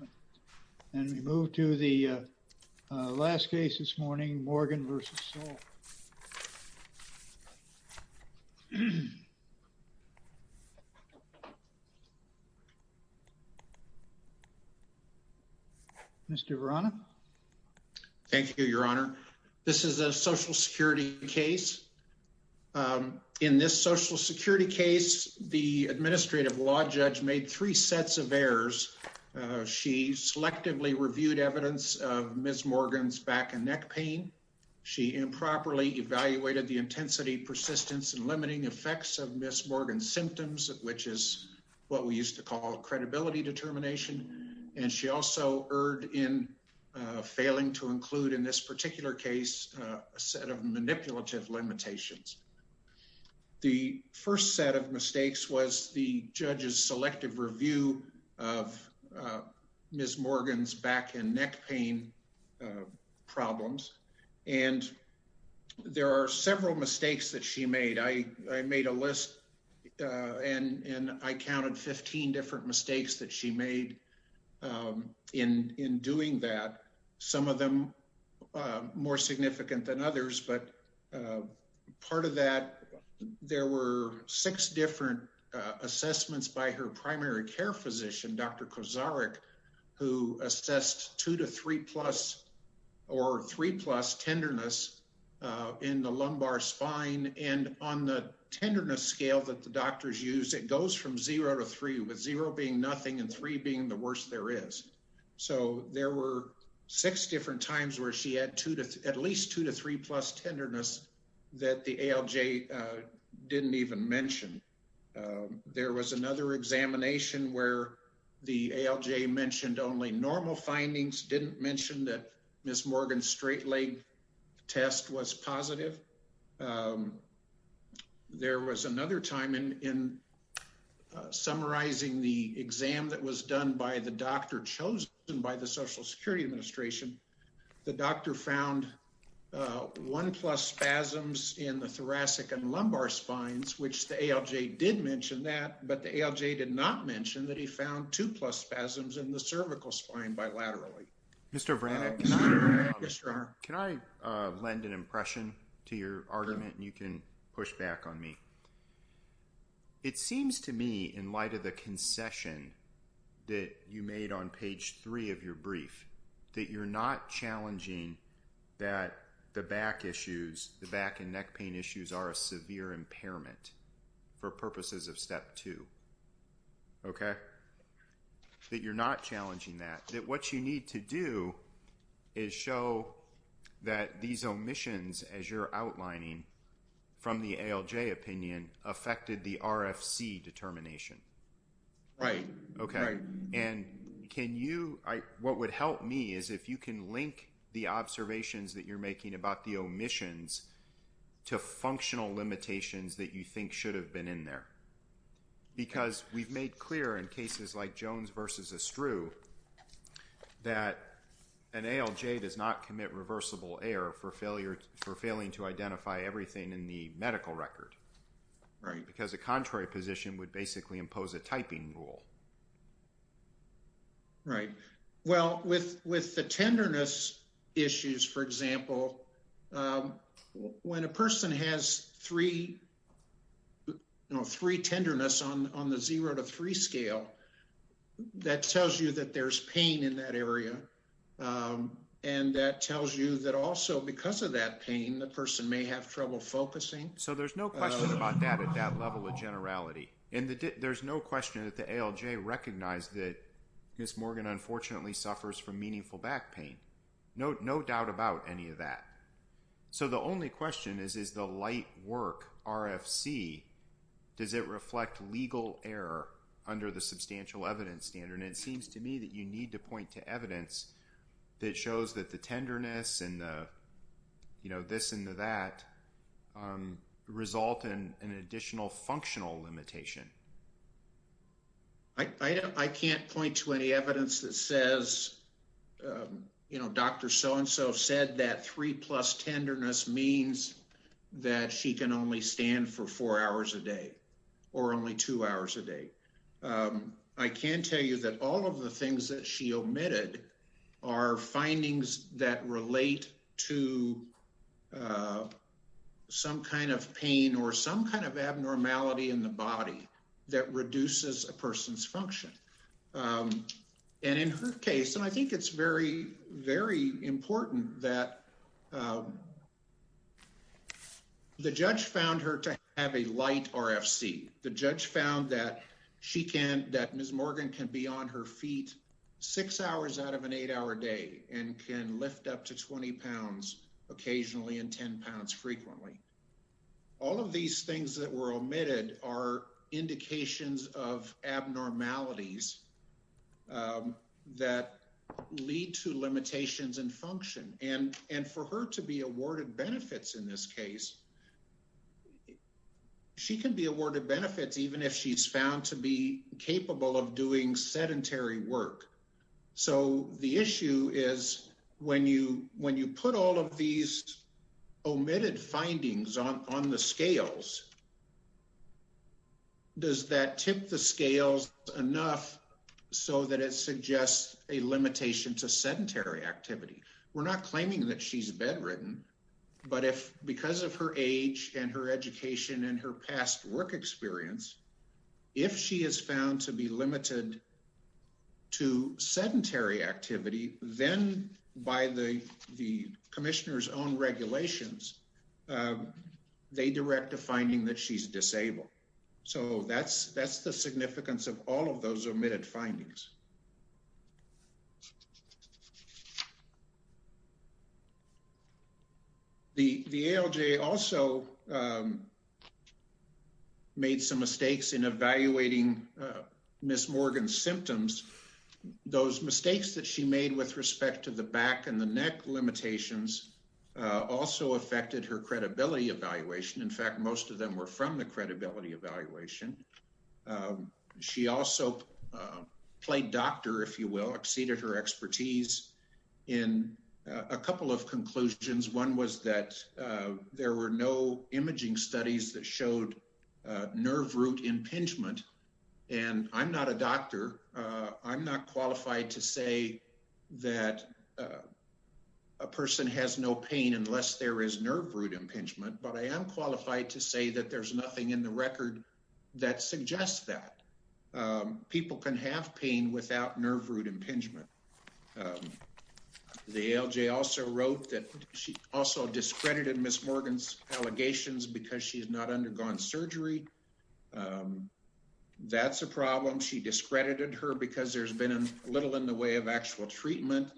Mr. Verano. Thank you, your honor. This is a social security case. In this social security case, the administrative law judge made three sets of errors. She selectively reviewed evidence of Ms. Morgan's back and neck pain. She improperly evaluated the intensity, persistence and limiting effects of Ms. Morgan's symptoms, which is what we used to call credibility determination. And she also erred in failing to include in this particular case, a set of manipulative limitations. The first set of mistakes was the judge's selective review of Ms. Morgan's back and neck pain problems. And there are several mistakes that she made. I made a list and I counted 15 different mistakes that she made in doing that, some of them more significant than others. But part of that, there were six different assessments by her primary care physician, Dr. Kozarik, who assessed two to three plus or three plus tenderness in the lumbar spine and on the tenderness scale that the doctors use, it goes from zero to three with zero being nothing and three being the worst there is. So there were six different times where she had at least two to three plus tenderness that the ALJ didn't even mention. There was another examination where the ALJ mentioned only normal findings, didn't mention that Ms. Morgan's straight leg test was positive. There was another time in summarizing the doctor found one plus spasms in the thoracic and lumbar spines, which the ALJ did mention that, but the ALJ did not mention that he found two plus spasms in the cervical spine bilaterally. Mr. Vranek, can I lend an impression to your argument and you can push back on me? It seems to me in light of the concession that you made on page three of your brief that you're not challenging that the back issues, the back and neck pain issues are a severe impairment for purposes of step two, okay? That you're not challenging that, that what you need to do is show that these omissions as you're outlining from the ALJ opinion affected the RFC determination. Right. Okay. Right. And can you, what would help me is if you can link the observations that you're making about the omissions to functional limitations that you think should have been in there. Because we've made clear in cases like Jones versus Estrue that an ALJ does not commit reversible error for failing to identify everything in the medical record. Right. Because a contrary position would basically impose a typing rule. Right. Well, with the tenderness issues, for example, when a person has three tenderness on the zero to three scale, that tells you that there's pain in that area. And that tells you that also because of that pain, the person may have trouble focusing. So there's no question about that at that level of generality. And there's no question that the ALJ recognized that Ms. Morgan unfortunately suffers from meaningful back pain. No doubt about any of that. So the only question is, is the light work RFC, does it reflect legal error under the substantial evidence standard? And it seems to me that you need to point to evidence that shows that the tenderness and the, you know, this and that result in an additional functional limitation. I can't point to any evidence that says, you know, Dr. So-and-so said that three plus tenderness means that she can only stand for four hours a day or only two hours a day. I can tell you that all of the things that she omitted are findings that relate to some kind of pain or some kind of abnormality in the body that reduces a person's function. And in her case, and I think it's very, very important that the judge found her to have a light RFC. The she can be on her feet six hours out of an eight hour day and can lift up to 20 pounds occasionally and 10 pounds frequently. All of these things that were omitted are indications of abnormalities that lead to limitations and function. And for her to be awarded benefits in this case, she can be awarded benefits even if she's found to be capable of doing sedentary work. So the issue is when you put all of these omitted findings on the scales, does that tip the scales enough so that it suggests a limitation to sedentary activity? We're not claiming that she's bedridden, but if because of her age and her education and her past work experience, if she is found to be limited to sedentary activity, then by the commissioner's own regulations, they direct a finding that she's disabled. So that's that's the significance of all of those omitted findings. The ALJ also made some mistakes in evaluating Ms. Morgan's symptoms. Those mistakes that she made with respect to the back and the neck limitations also affected her credibility evaluation. In fact, most of them were from the credibility evaluation. She also played doctor, if you will, exceeded her expertise in a couple of conclusions. One was that there were no imaging studies that showed nerve root impingement. And I'm not a doctor. I'm not qualified to say that a person has no pain unless there is nerve root impingement. But I am qualified to say that there's nothing in the record that suggests that people can have pain without nerve root impingement. The ALJ also wrote that she also discredited Ms. Morgan's allegations because she has not undergone surgery. That's a problem. She discredited her because there's been a little in the way of actual treatment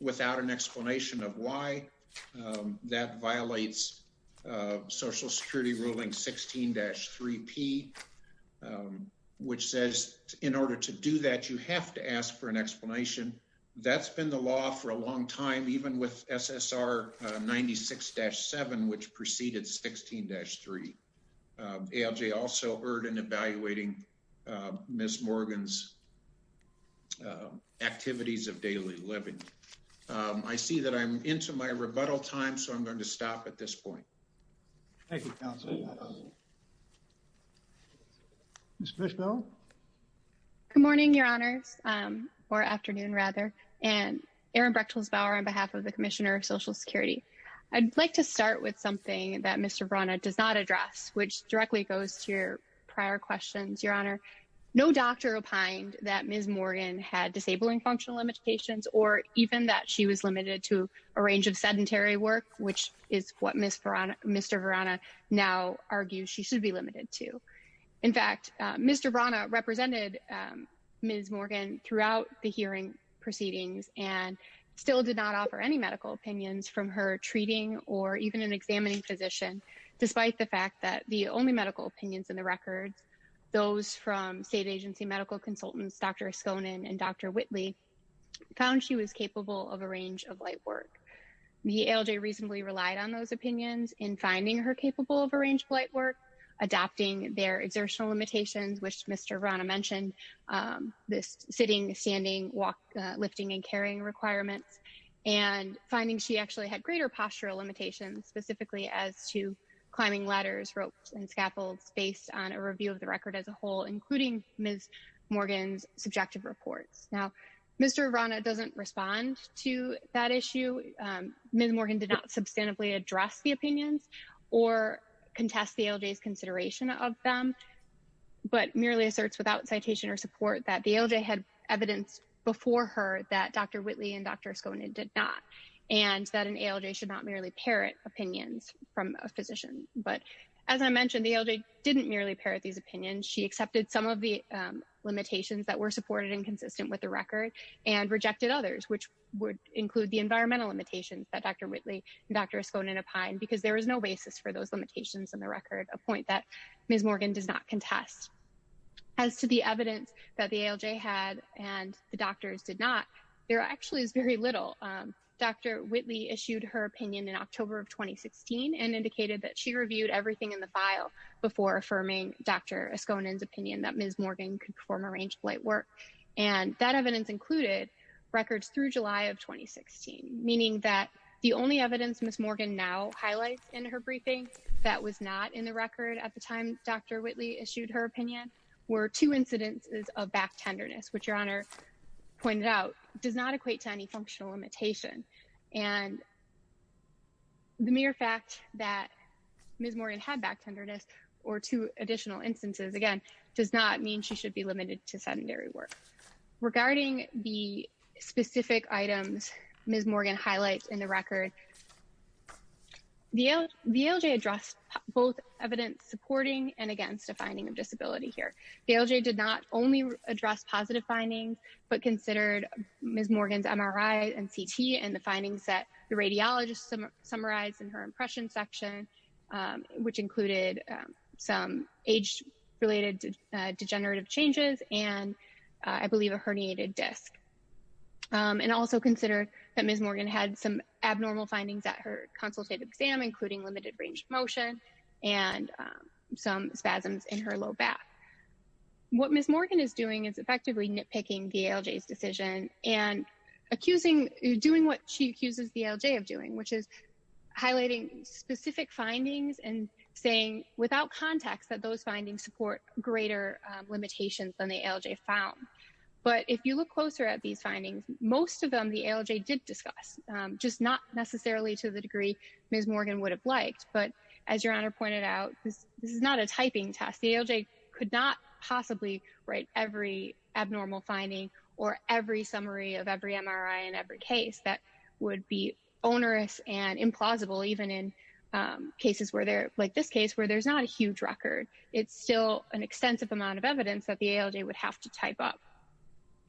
without an explanation of why that violates Social Security ruling 16-3P, which says in order to do that, you have to ask for an explanation. That's been the law for a long time, even with SSR 96-7, which preceded 16-3. ALJ also Ms. Morgan's activities of daily living. I see that I'm into my rebuttal time, so I'm going to stop at this point. Thank you, Counselor. Ms. Fishbelle? Good morning, Your Honors, or afternoon, rather, and Erin Brechtelsbauer on behalf of the Commissioner of Social Security. I'd like to start with something that Mr. Verana does not address, which directly goes to your prior questions, Your Honor. No doctor opined that Ms. Morgan had disabling functional limitations or even that she was limited to a range of sedentary work, which is what Mr. Verana now argues she should be limited to. In fact, Mr. Verana represented Ms. Morgan throughout the from her treating or even an examining physician, despite the fact that the only medical opinions in the records, those from state agency medical consultants, Dr. Eskonen and Dr. Whitley, found she was capable of a range of light work. The ALJ reasonably relied on those opinions in finding her capable of a range of light work, adopting their exertional limitations, which Mr. had greater postural limitations, specifically as to climbing ladders, ropes, and scaffolds, based on a review of the record as a whole, including Ms. Morgan's subjective reports. Now, Mr. Verana doesn't respond to that issue. Ms. Morgan did not substantively address the opinions or contest the ALJ's consideration of them, but merely asserts without citation or support that the ALJ had evidence before her that Dr. Whitley and Dr. Eskonen did not, and that an ALJ should not merely parrot opinions from a physician. But as I mentioned, the ALJ didn't merely parrot these opinions. She accepted some of the limitations that were supported and consistent with the record, and rejected others, which would include the environmental limitations that Dr. Whitley and Dr. Eskonen opined, because there was no basis for those limitations in the record, a point that Ms. Morgan does not contest. As to the evidence that the ALJ had and the Whitley issued her opinion in October of 2016, and indicated that she reviewed everything in the file before affirming Dr. Eskonen's opinion that Ms. Morgan could perform a range of light work, and that evidence included records through July of 2016, meaning that the only evidence Ms. Morgan now highlights in her briefing that was not in the record at the time Dr. Whitley issued her opinion were two incidences of back tenderness, which Your Honor pointed out does not equate to any limitation. And the mere fact that Ms. Morgan had back tenderness, or two additional instances, again, does not mean she should be limited to sedentary work. Regarding the specific items Ms. Morgan highlights in the record, the ALJ addressed both evidence supporting and against a finding of disability here. The ALJ did not only address positive findings, but considered Ms. Morgan's MRI and CT and the findings that the radiologist summarized in her impression section, which included some age-related degenerative changes, and I believe a herniated disc. And also considered that Ms. Morgan had some abnormal findings at her consultative exam, including limited range of motion and some spasms in her low back. What Ms. Morgan is doing is and accusing doing what she accuses the ALJ of doing, which is highlighting specific findings and saying without context that those findings support greater limitations than the ALJ found. But if you look closer at these findings, most of them the ALJ did discuss, just not necessarily to the degree Ms. Morgan would have liked. But as Your Honor pointed out, this is not a typing test. The ALJ could not possibly write every abnormal finding or every summary of every MRI in every case that would be onerous and implausible, even in cases where there, like this case, where there's not a huge record. It's still an extensive amount of evidence that the ALJ would have to type up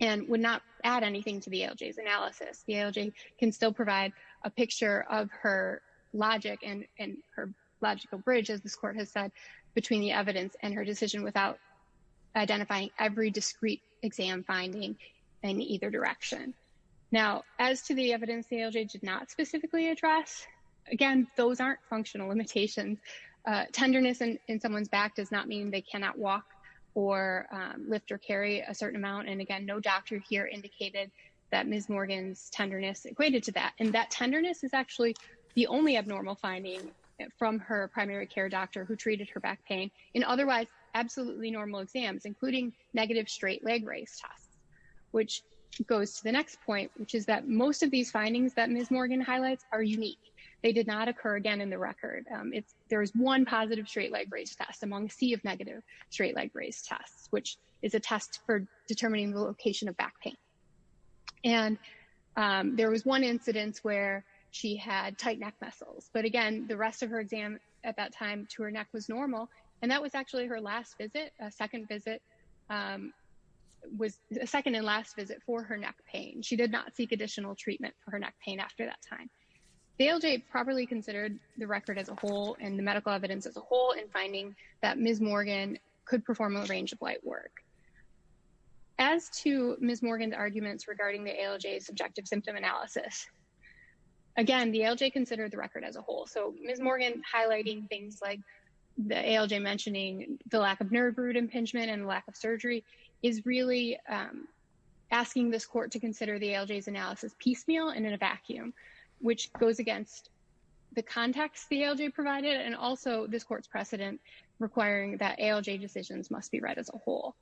and would not add anything to the ALJ's analysis. The ALJ can still provide a picture of her logic and her logical bridge, as this Court has said, between the evidence and her decision without identifying every discrete exam finding in either direction. Now, as to the evidence the ALJ did not specifically address, again, those aren't functional limitations. Tenderness in someone's back does not mean they cannot walk or lift or carry a certain amount. And again, no doctor here indicated that Ms. Morgan's tenderness equated to that. And that tenderness is actually the only abnormal finding from her primary care doctor who treated her back pain in otherwise absolutely normal exams, including negative straight leg raise tests, which goes to the next point, which is that most of these findings that Ms. Morgan highlights are unique. They did not occur again in the record. There was one positive straight leg raise test among a sea of negative straight leg raise tests, which is a test for neck pain. There was one incidence where she had tight neck muscles. But again, the rest of her exam at that time to her neck was normal. And that was actually her last visit, second visit, was a second and last visit for her neck pain. She did not seek additional treatment for her neck pain after that time. The ALJ properly considered the record as a whole and the medical evidence as a whole in finding that Ms. Morgan could perform a range of light work. As to Ms. Morgan's arguments regarding the ALJ's subjective symptom analysis, again, the ALJ considered the record as a whole. So Ms. Morgan highlighting things like the ALJ mentioning the lack of nerve root impingement and lack of surgery is really asking this court to consider the ALJ's analysis piecemeal and in a vacuum, which goes against the context the ALJ provided and also this court's precedent requiring that ALJ decisions must be as a whole.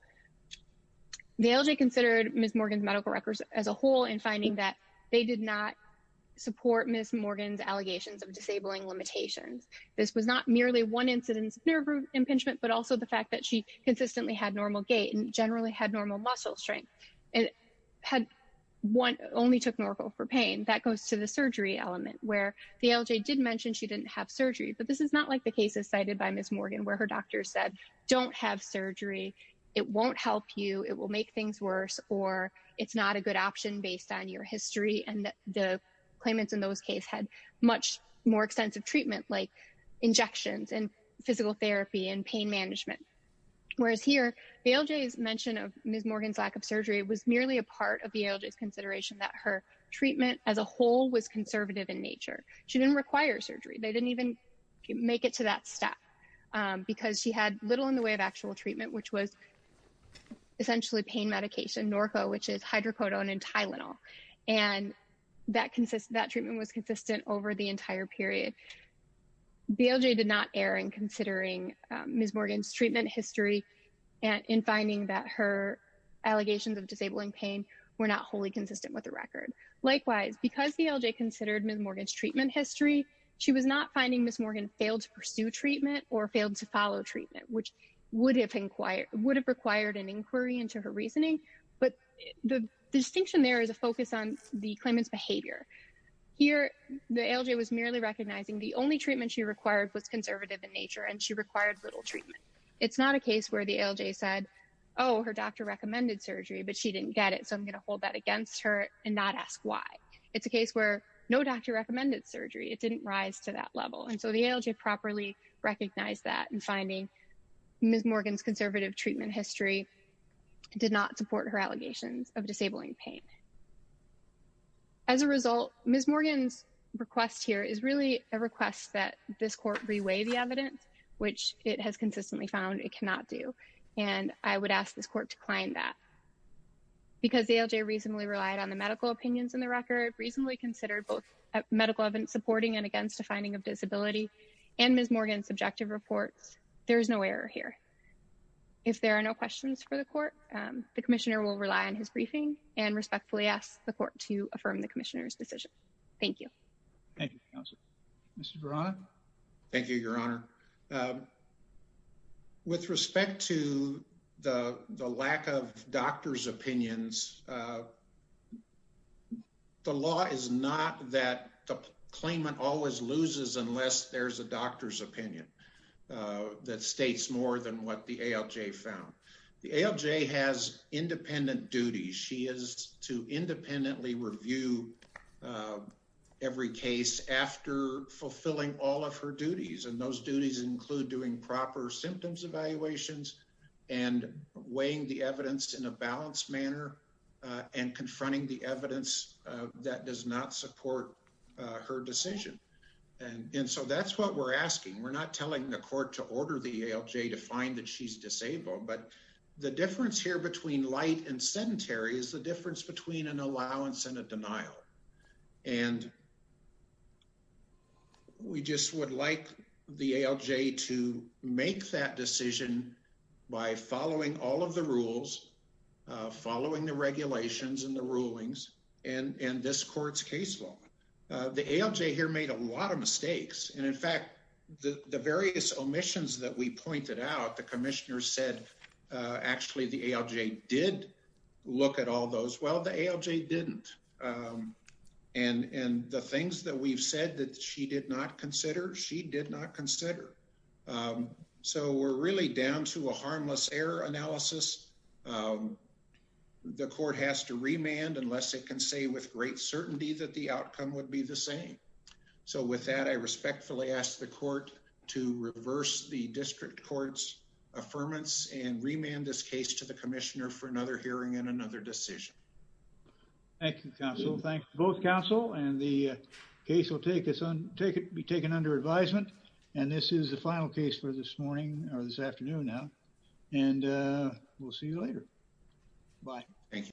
The ALJ considered Ms. Morgan's medical records as a whole in finding that they did not support Ms. Morgan's allegations of disabling limitations. This was not merely one incidence of nerve root impingement, but also the fact that she consistently had normal gait and generally had normal muscle strength and only took Norco for pain. That goes to the surgery element where the ALJ did mention she didn't have surgery, but this is not like the cases cited by Ms. Morgan where her doctor said, don't have surgery, it won't help you, it will make things worse, or it's not a good option based on your history. And the claimants in those cases had much more extensive treatment like injections and physical therapy and pain management. Whereas here, the ALJ's mention of Ms. Morgan's lack of surgery was merely a part of the ALJ's consideration that her treatment as a whole was conservative in nature. She didn't require surgery. They didn't even make it to that step because she had little in the way of actual treatment, which was essentially pain medication, Norco, which is hydrocodone and Tylenol, and that treatment was consistent over the entire period. The ALJ did not err in considering Ms. Morgan's treatment history and in finding that her allegations of disabling pain were not wholly consistent with the record. Likewise, because the ALJ considered Ms. Morgan's treatment history, she was not finding Ms. Morgan failed to pursue treatment or failed to follow treatment, which would have required an inquiry into her reasoning. But the distinction there is a focus on the claimant's behavior. Here, the ALJ was merely recognizing the only treatment she required was conservative in nature, and she required little treatment. It's not a case where the ALJ said, oh, her doctor recommended surgery, but she didn't get it, so I'm going to hold that against her and not ask why. It's a case where no doctor recommended surgery. It didn't rise to that level, and so the ALJ properly recognized that in finding Ms. Morgan's conservative treatment history did not support her allegations of disabling pain. As a result, Ms. Morgan's request here is really a request that this court reweigh the evidence, which it has consistently found it cannot do, and I would ask this court to claim that. Because the ALJ reasonably relied on the medical opinions in the record, reasonably considered both medical evidence supporting and against a finding of disability, and Ms. Morgan's subjective reports, there is no error here. If there are no questions for the court, the Commissioner will rely on his briefing and respectfully ask the court to affirm the Commissioner's decision. Thank you. Thank you, Counselor. Mr. Verano? Thank you, Your Honor. With respect to the lack of doctor's opinions, the law is not that the claimant always loses unless there's a doctor's opinion that states more than what the ALJ found. The ALJ has independent duties. She is to independently review every case after fulfilling all of her duties, and those duties include doing proper symptoms evaluations and weighing the evidence in a balanced manner and confronting the evidence that does not support her decision. So that's what we're asking. We're not telling the court to order the ALJ to find that she's disabled, but the difference here between light and sedentary is the difference between an allowance and a denial, and we just would like the ALJ to make that decision by following all of the rules, following the regulations and the rulings, and this court's case law. The ALJ here made a lot of mistakes, and in fact, the various omissions that we pointed out, the commissioner said actually the ALJ did look at all those. Well, the ALJ didn't, and the things that we've said that she did not consider, she did not consider. So we're really down to a harmless error analysis. The court has to remand unless it can say with great certainty that the outcome would be the same. So with that, I respectfully ask the court to reverse the district court's affirmance and remand this case to the commissioner for another hearing and another decision. Thank you, counsel. Thanks to both counsel, and the case will be taken under advisement, and this is the final case for this morning, or this afternoon now, and we'll see you later. Bye. Thank you.